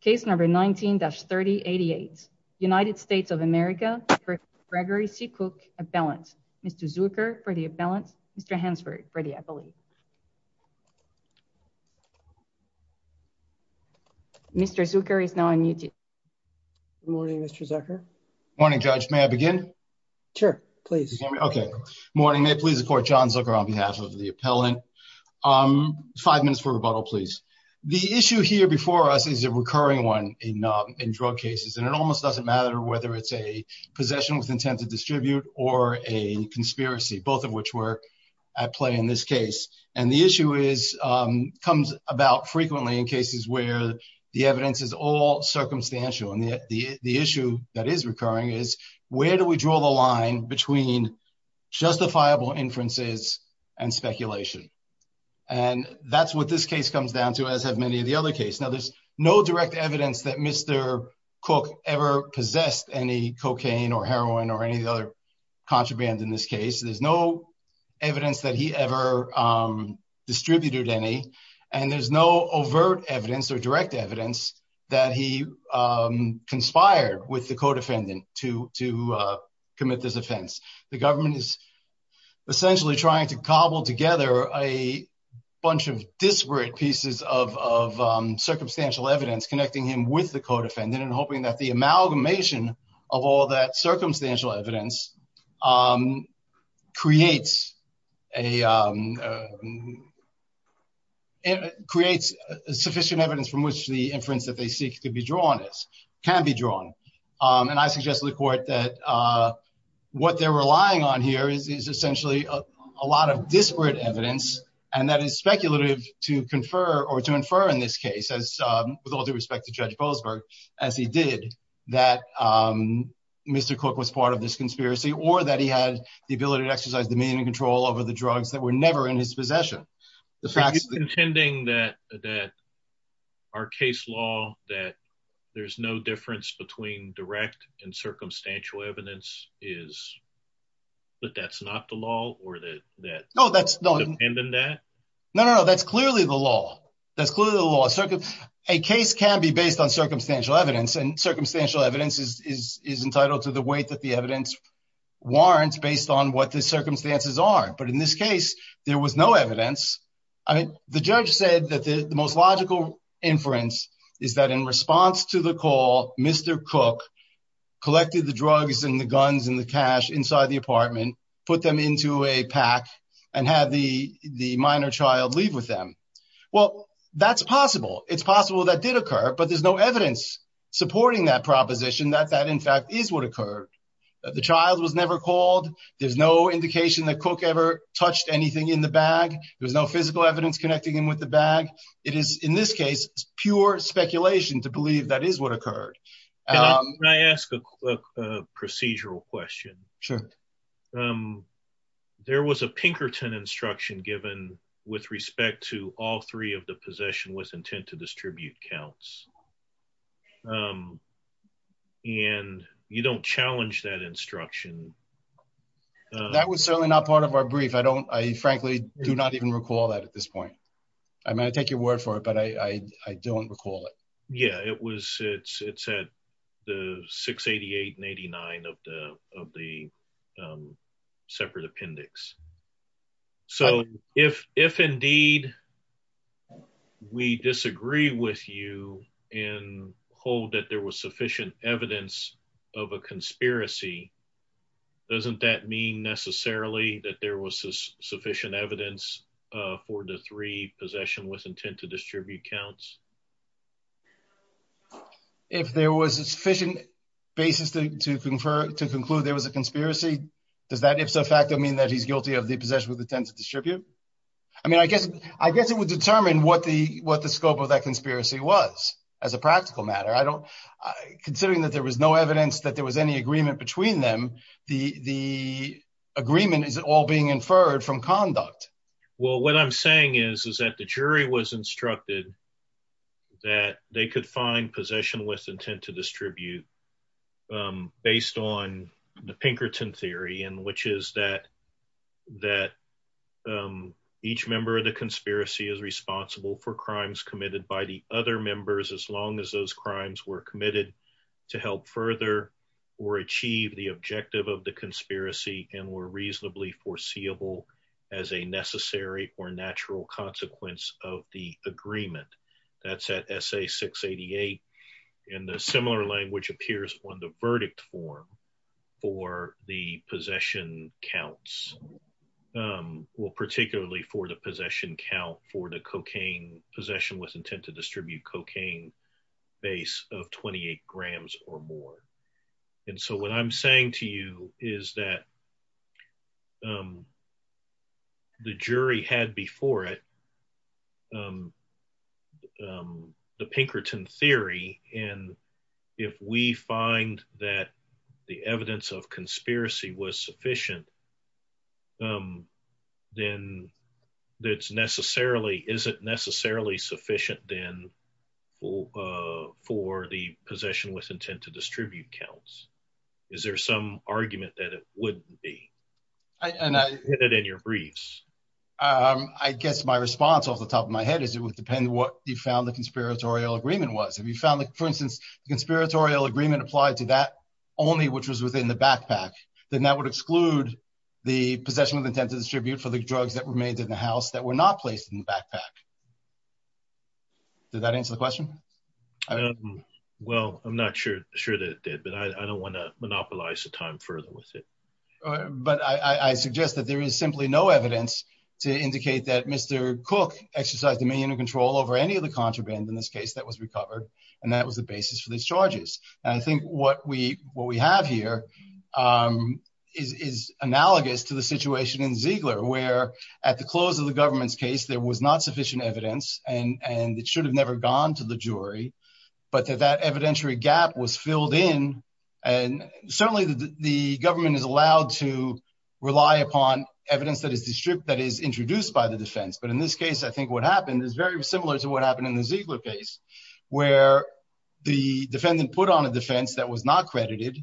case number 19-3088 United States of America for Gregory C. Cook appellant Mr. Zucker for the appellant Mr. Hansford for the appellate. Mr. Zucker is now on mute. Good morning Mr. Zucker. Morning judge may I begin? Sure please. Okay morning may it please the court John Zucker on behalf of the appellant. Five minutes for rebuttal please. The issue here before us is a recurring one in in drug cases and it almost doesn't matter whether it's a possession with intent to distribute or a conspiracy both of which work at play in this case and the issue is comes about frequently in cases where the evidence is all circumstantial and yet the the issue that is recurring is where do we draw the line between justifiable inferences and speculation and that's what this case comes down to as have many of the other case. Now there's no direct evidence that Mr. Cook ever possessed any cocaine or heroin or any of the other contraband in this case. There's no evidence that he ever distributed any and there's no overt evidence or direct evidence that he conspired with the commit this offense. The government is essentially trying to cobble together a bunch of disparate pieces of circumstantial evidence connecting him with the co-defendant and hoping that the amalgamation of all that circumstantial evidence creates a creates sufficient evidence from which the inference that they seek to be what they're relying on here is essentially a lot of disparate evidence and that is speculative to confer or to infer in this case as with all due respect to Judge Goldsberg as he did that Mr. Cook was part of this conspiracy or that he had the ability to exercise the meaning and control over the drugs that were never in his possession. The fact that our case law that there's no difference between direct and circumstantial evidence is but that's not the law or that no that's no and then that no no that's clearly the law that's clearly the law. A case can be based on circumstantial evidence and circumstantial evidence is entitled to the weight that the evidence warrants based on what the circumstances are but in this case there was no evidence I mean the judge said that the most logical inference is that in response to the call Mr. Cook collected the drugs and the guns and the cash inside the apartment put them into a pack and had the the minor child leave with them well that's possible it's possible that did occur but there's no evidence supporting that proposition that that in fact is what occurred the child was never called there's no indication that Cook ever touched anything in the bag there was no physical evidence connecting him with the bag it is in this case pure speculation to believe that is what sure there was a Pinkerton instruction given with respect to all three of the possession was intent to distribute counts and you don't challenge that instruction that was certainly not part of our brief I don't I frankly do not even recall that at this point I might take your word for it but I don't recall yeah it was it's it's at the 688 and 89 of the of the separate appendix so if if indeed we disagree with you and hold that there was sufficient evidence of a conspiracy doesn't that mean necessarily that there was sufficient evidence for the three possession with intent to distribute counts if there was a sufficient basis to confer to conclude there was a conspiracy does that if so fact I mean that he's guilty of the possession with intent to distribute I mean I guess I guess it would determine what the what the scope of that conspiracy was as a practical matter I don't considering that there was no evidence that there was any agreement between them the the agreement is all being inferred from conduct well what I'm saying is is that the jury was instructed that they could find possession with intent to distribute based on the Pinkerton theory and which is that that each member of the conspiracy is responsible for crimes committed by the other members as long as those crimes were committed to help further or achieve the objective of the as a necessary or natural consequence of the agreement that's at SA 688 in the similar language appears on the verdict form for the possession counts well particularly for the possession count for the cocaine possession with intent to distribute cocaine base of 28 grams or more and so what I'm saying to you is that the jury had before it the Pinkerton theory and if we find that the evidence of conspiracy was sufficient then that's necessarily isn't necessarily sufficient then for for the possession with intent to distribute is there some argument that it wouldn't be and I did it in your briefs I guess my response off the top of my head is it would depend what you found the conspiratorial agreement was if you found the for instance the conspiratorial agreement applied to that only which was within the backpack then that would exclude the possession of the tentative tribute for the drugs that were made in the house that were not placed in the backpack did that answer the question well I'm not sure sure that it did but I don't want to monopolize the time further with it but I suggest that there is simply no evidence to indicate that mr. cook exercised a minion of control over any of the contraband in this case that was recovered and that was the basis for these charges and I think what we what we have here is analogous to the situation in Ziegler where at the close of the government's case there was not sufficient evidence and and it should have never gone to the jury but that evidentiary gap was filled in and certainly the government is allowed to rely upon evidence that is the strip that is introduced by the defense but in this case I think what happened is very similar to what happened in the Ziegler case where the defendant put on a defense that was not credited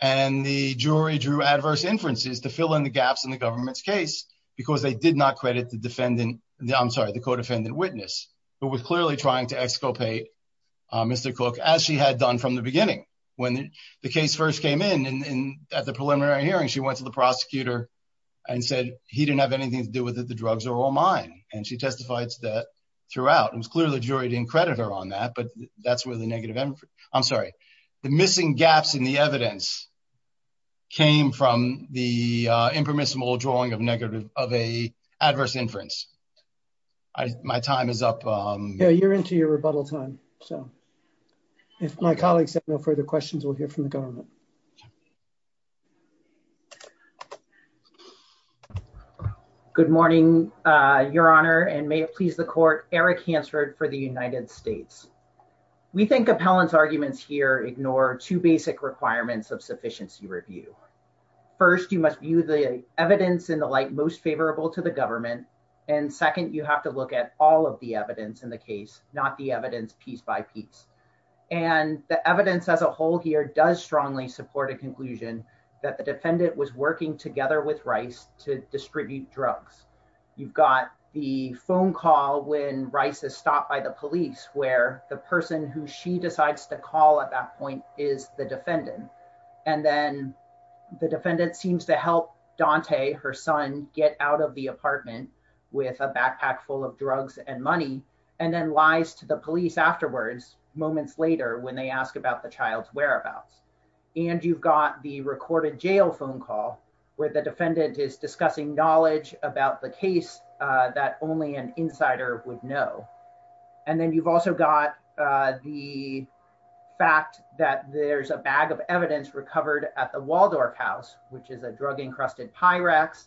and the jury drew adverse inferences to fill in the gaps in the government's case because they did not credit the co-defendant witness who was clearly trying to exculpate mr. cook as she had done from the beginning when the case first came in and at the preliminary hearing she went to the prosecutor and said he didn't have anything to do with it the drugs are all mine and she testifies that throughout it was clear the jury didn't credit her on that but that's where the negative I'm sorry the missing gaps in the evidence came from the impermissible drawing of negative of adverse inference my time is up you're into your rebuttal time so if my colleagues have no further questions we'll hear from the government good morning your honor and may it please the court Eric Hansford for the United States we think appellants arguments here ignore two basic requirements of sufficiency review first you must view the evidence in the light most favorable to the government and second you have to look at all of the evidence in the case not the evidence piece by piece and the evidence as a whole here does strongly support a conclusion that the defendant was working together with rice to distribute drugs you've got the phone call when rice is stopped by the police where the person who she decides to call at that point is the defendant and then the defendant seems to help Dante her son get out of the apartment with a backpack full of drugs and money and then lies to the police afterwards moments later when they ask about the child's whereabouts and you've got the recorded jail phone call where the defendant is discussing knowledge about the case that only an insider would know and then you've also got the fact that there's a bag of evidence recovered at the Waldorf house which is a drug encrusted Pyrex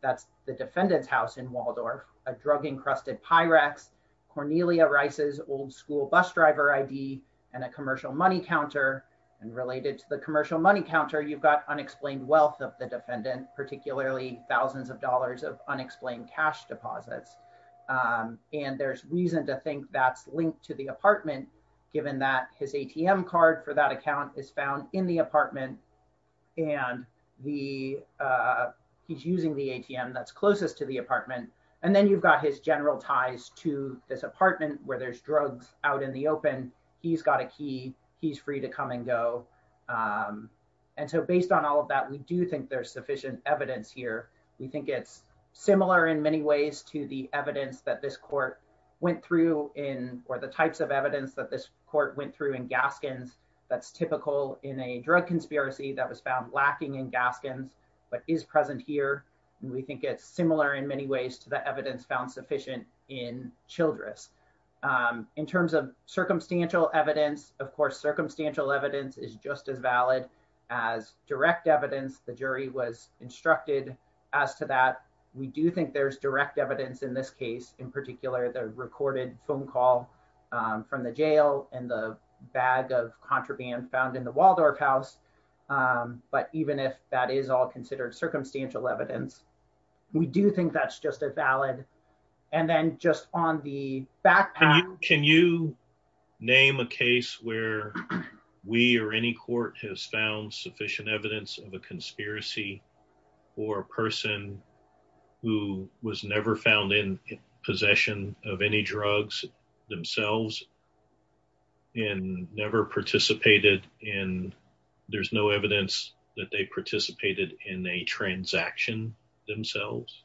that's the defendant's house in Waldorf a drug encrusted Pyrex Cornelia Rice's old-school bus driver ID and a commercial money counter and related to the commercial money counter you've got unexplained wealth of the defendant particularly thousands of dollars of unexplained cash deposits and there's reason to think that's linked to the apartment given that his ATM card for that account is found in the apartment and the he's using the ATM that's closest to the apartment and then you've got his general ties to this apartment where there's drugs out in the open he's got a key he's free to come and go and so based on all of that we do think there's sufficient evidence here we think it's similar in many ways to the evidence that this court went through in or the types of evidence that this court went through in Gaskins that's typical in a drug conspiracy that was found lacking in Gaskins but is present here we think it's similar in many ways to the evidence found sufficient in Childress in terms of circumstantial evidence of course circumstantial evidence is just as valid as direct evidence the jury was instructed as to that we do think there's direct evidence in this case in the bag of contraband found in the Waldorf house but even if that is all considered circumstantial evidence we do think that's just as valid and then just on the back can you name a case where we or any court has found sufficient evidence of a conspiracy or a person who was never found in possession of any drugs themselves and never participated in there's no evidence that they participated in a transaction themselves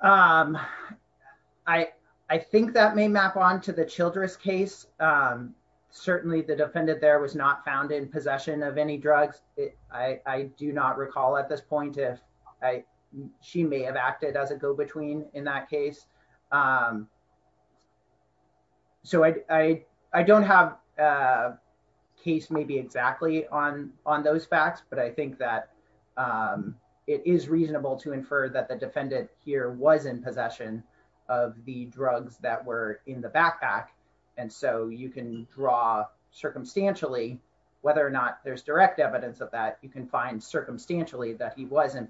I I think that may map on to the Childress case certainly the defendant there was not found in possession of any drugs I I do not recall at this point if I she may have acted as a go-between in that case so I I don't have case maybe exactly on on those facts but I think that it is reasonable to infer that the defendant here was in possession of the drugs that were in the backpack and so you can draw circumstantially whether or not there's direct evidence of that you can find circumstantially that he was in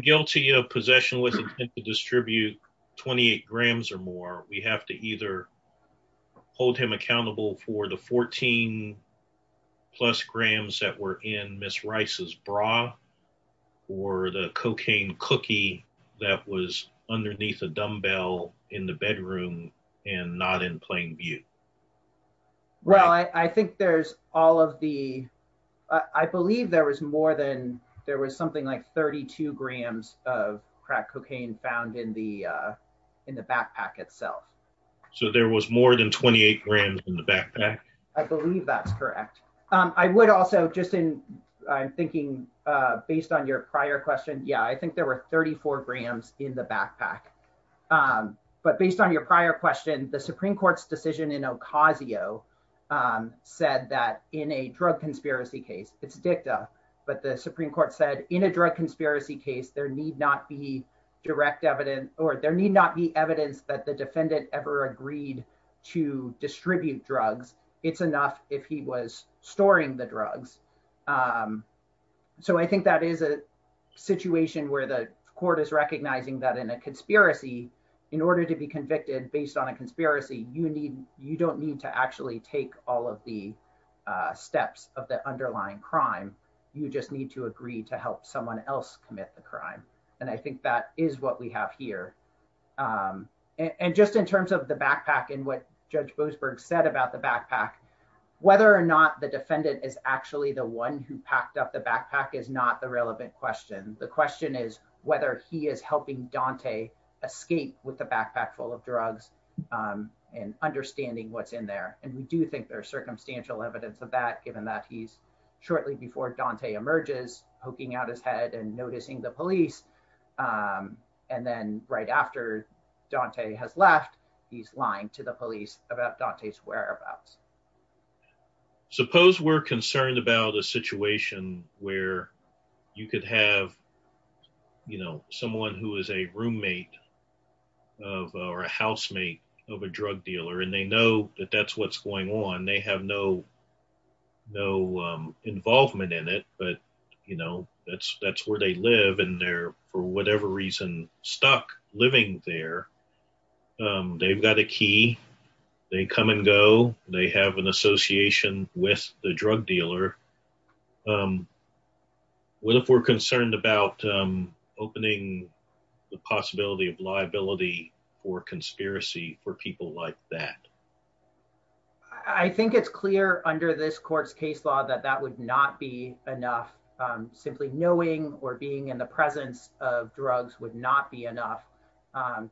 guilty of possession was to distribute 28 grams or more we have to either hold him accountable for the 14 plus grams that were in miss Rice's bra or the cocaine cookie that was underneath a dumbbell in the bedroom and not in plain view well I I think there's all of the I believe there was more than there was something like 32 grams of crack cocaine found in the in the backpack itself so there was more than 28 grams in the backpack I believe that's correct I would also just in I'm thinking based on your prior question yeah I think there were 34 grams in the backpack but based on your prior question the Supreme Court's decision in Ocasio said that in a drug conspiracy case it's dicta but the in a drug conspiracy case there need not be direct evidence or there need not be evidence that the defendant ever agreed to distribute drugs it's enough if he was storing the drugs so I think that is a situation where the court is recognizing that in a conspiracy in order to be convicted based on a conspiracy you need you don't need to actually take all of the steps of the crime and I think that is what we have here and just in terms of the backpack and what Judge Boasberg said about the backpack whether or not the defendant is actually the one who packed up the backpack is not the relevant question the question is whether he is helping Dante escape with the backpack full of drugs and understanding what's in there and we do think there's circumstantial evidence of that given that he's shortly before Dante emerges poking out his head and noticing the police and then right after Dante has left he's lying to the police about Dante's whereabouts suppose we're concerned about a situation where you could have you know someone who is a roommate of or a housemate of a drug dealer and they know that that's what's going on they have no no involvement in it but you know that's that's where they live and they're for whatever reason stuck living there they've got a key they come and go they have an association with the drug dealer what if we're concerned about opening the possibility of liability for conspiracy for people like that I think it's clear under this court's case law that that would not be enough simply knowing or being in the presence of drugs would not be enough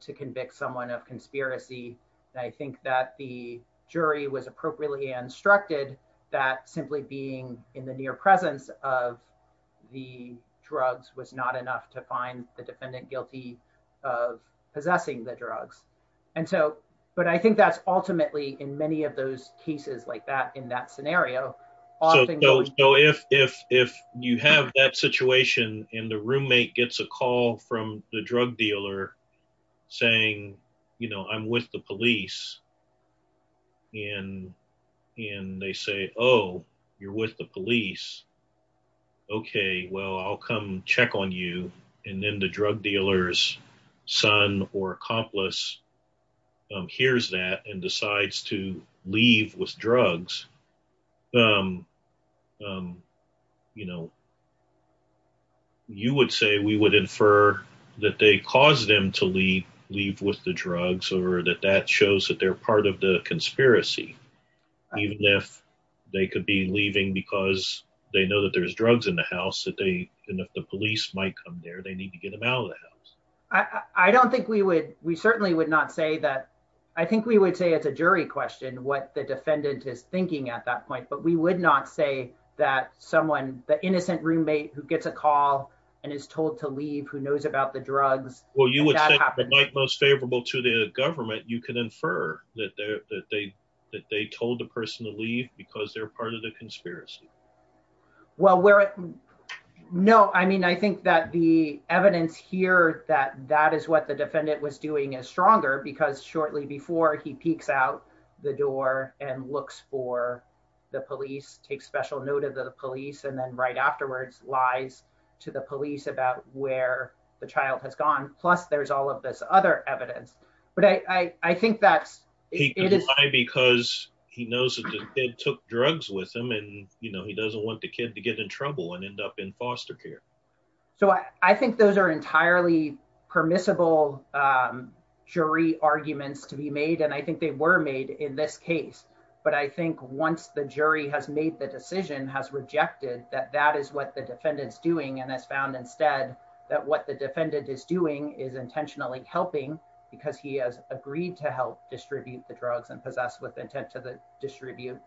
to convict someone of conspiracy I think that the jury was appropriately instructed that simply being in the near presence of the drugs was not enough to find the defendant guilty of possessing the drugs and so but I think that's ultimately in many of those cases like that in that scenario so if if you have that situation and the roommate gets a call from the drug dealer saying you know I'm with the police and and they say oh you're with the police okay well I'll come check on you and then the drug dealers son or accomplice hears that and decides to leave with drugs you know you would say we would infer that they caused them to leave leave with the drugs or that that shows that they're part of the conspiracy even if they could be leaving because they know that there's drugs in the house that they and if the police might come there they need to get them out of the house I I don't think we would we certainly would not say that I think we would say it's a jury question what the defendant is thinking at that point but we would not say that someone the innocent roommate who gets a call and is told to leave who knows about the drugs well you would happen like most favorable to the government you can infer that there that they that they told the person to leave because they're part of the conspiracy well where it no I mean I think that the evidence here that that is what the defendant was doing is stronger because shortly before he peeks out the door and looks for the police take special note of the police and then right afterwards lies to the police about where the child has gone plus there's all of this other evidence but I I think that's it is because he knows that they took drugs with him and you know he doesn't want the kid to get in trouble and end up in jury arguments to be made and I think they were made in this case but I think once the jury has made the decision has rejected that that is what the defendant's doing and has found instead that what the defendant is doing is intentionally helping because he has agreed to help distribute the drugs and possess with intent to the distribute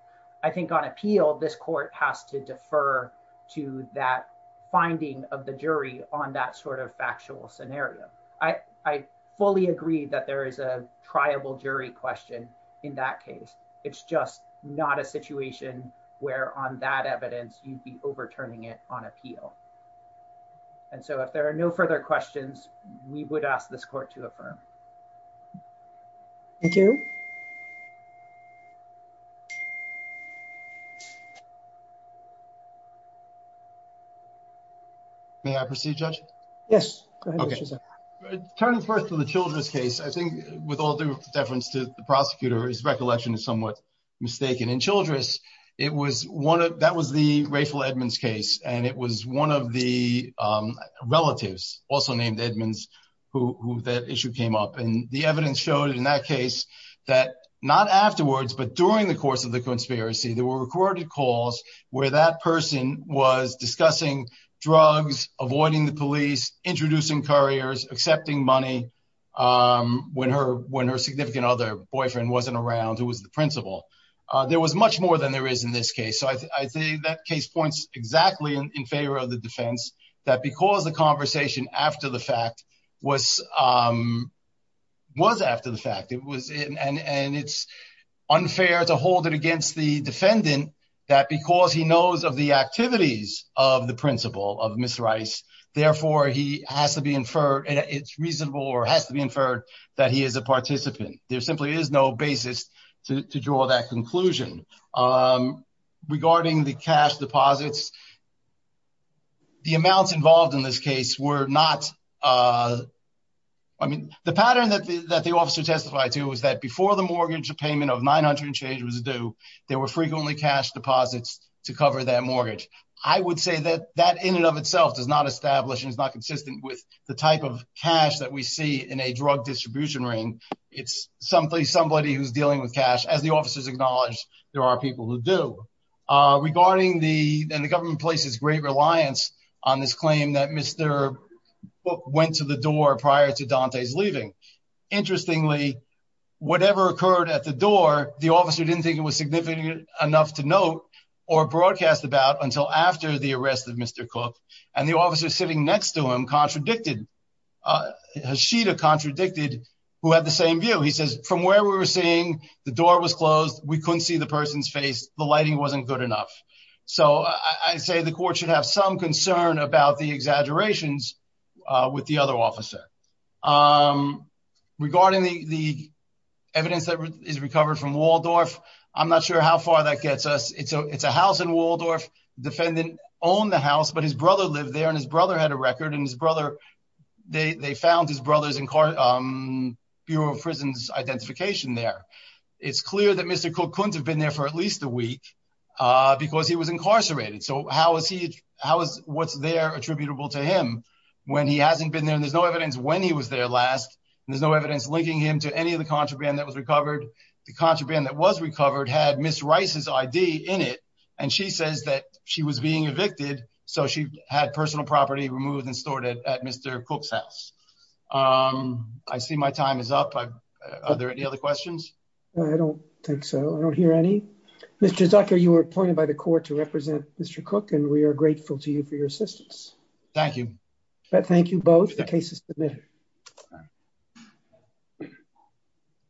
I think on appeal this court has to defer to that finding of the jury on that sort of factual scenario I I fully agree that there is a triable jury question in that case it's just not a situation where on that evidence you'd be overturning it on appeal and so if there are no further questions we would ask this court to affirm thank you may I proceed judge yes okay turn first to the children's case I think with all due deference to the prosecutor his recollection is somewhat mistaken in Childress it was one of that was the Ray Phil Edmonds case and it was one of the relatives also named Edmonds who that issue came up and the evidence showed in that case that not afterwards but during the course of the conspiracy there were recorded calls where that person was discussing drugs avoiding the police introducing couriers accepting money when her when her significant other boyfriend wasn't around who was the principal there was much more than there is in this case so I think that case points exactly in favor of the defense that because the conversation after the fact was was after the fact it was in and it's unfair to hold it against the defendant that because he knows of the activities of the principal of miss Rice therefore he has to be inferred and it's reasonable or has to be inferred that he is a participant there simply is no basis to draw that conclusion regarding the cash deposits the amounts involved in this case were not I mean the pattern that the officer testified to is that before the mortgage payment of 900 change was due there were frequently cash deposits to cover that mortgage I would say that that in and of itself does not establish is not consistent with the type of cash that we see in a drug distribution ring it's something somebody who's dealing with cash as the officers acknowledged there are people who do regarding the and the government places great reliance on this claim that mr. went to the door prior to Dante's leaving interestingly whatever occurred at the door the officer didn't think it was significant enough to note or broadcast about until after the arrest of mr. Cook and the officer sitting next to him contradicted has she to contradicted who had the same view he says from where we were seeing the door was closed we couldn't see the person's face the lighting wasn't good enough so I say the court should have some concern about the exaggerations with the other officer regarding the evidence that is recovered from Waldorf I'm not sure how far that gets us it's a it's a house in Waldorf defendant owned the house but his brother lived there and his brother had a record and his brother they found his brothers in court Bureau of Prisons identification there it's clear that mr. Cook couldn't have been there for at least a week because he was incarcerated so how is he how is what's there attributable to him when he hasn't been there there's no evidence when he was there last there's no evidence linking him to any of the contraband that was recovered the contraband that was recovered had miss Rice's ID in it and she says that she was being evicted so she had personal property removed and stored it at mr. Cook's house I see my time is up are there any other questions I don't think so I don't hear any mr. Zucker you were appointed by the court to represent mr. Cook and we are grateful to you for your assistance thank you but thank you both the case is submitted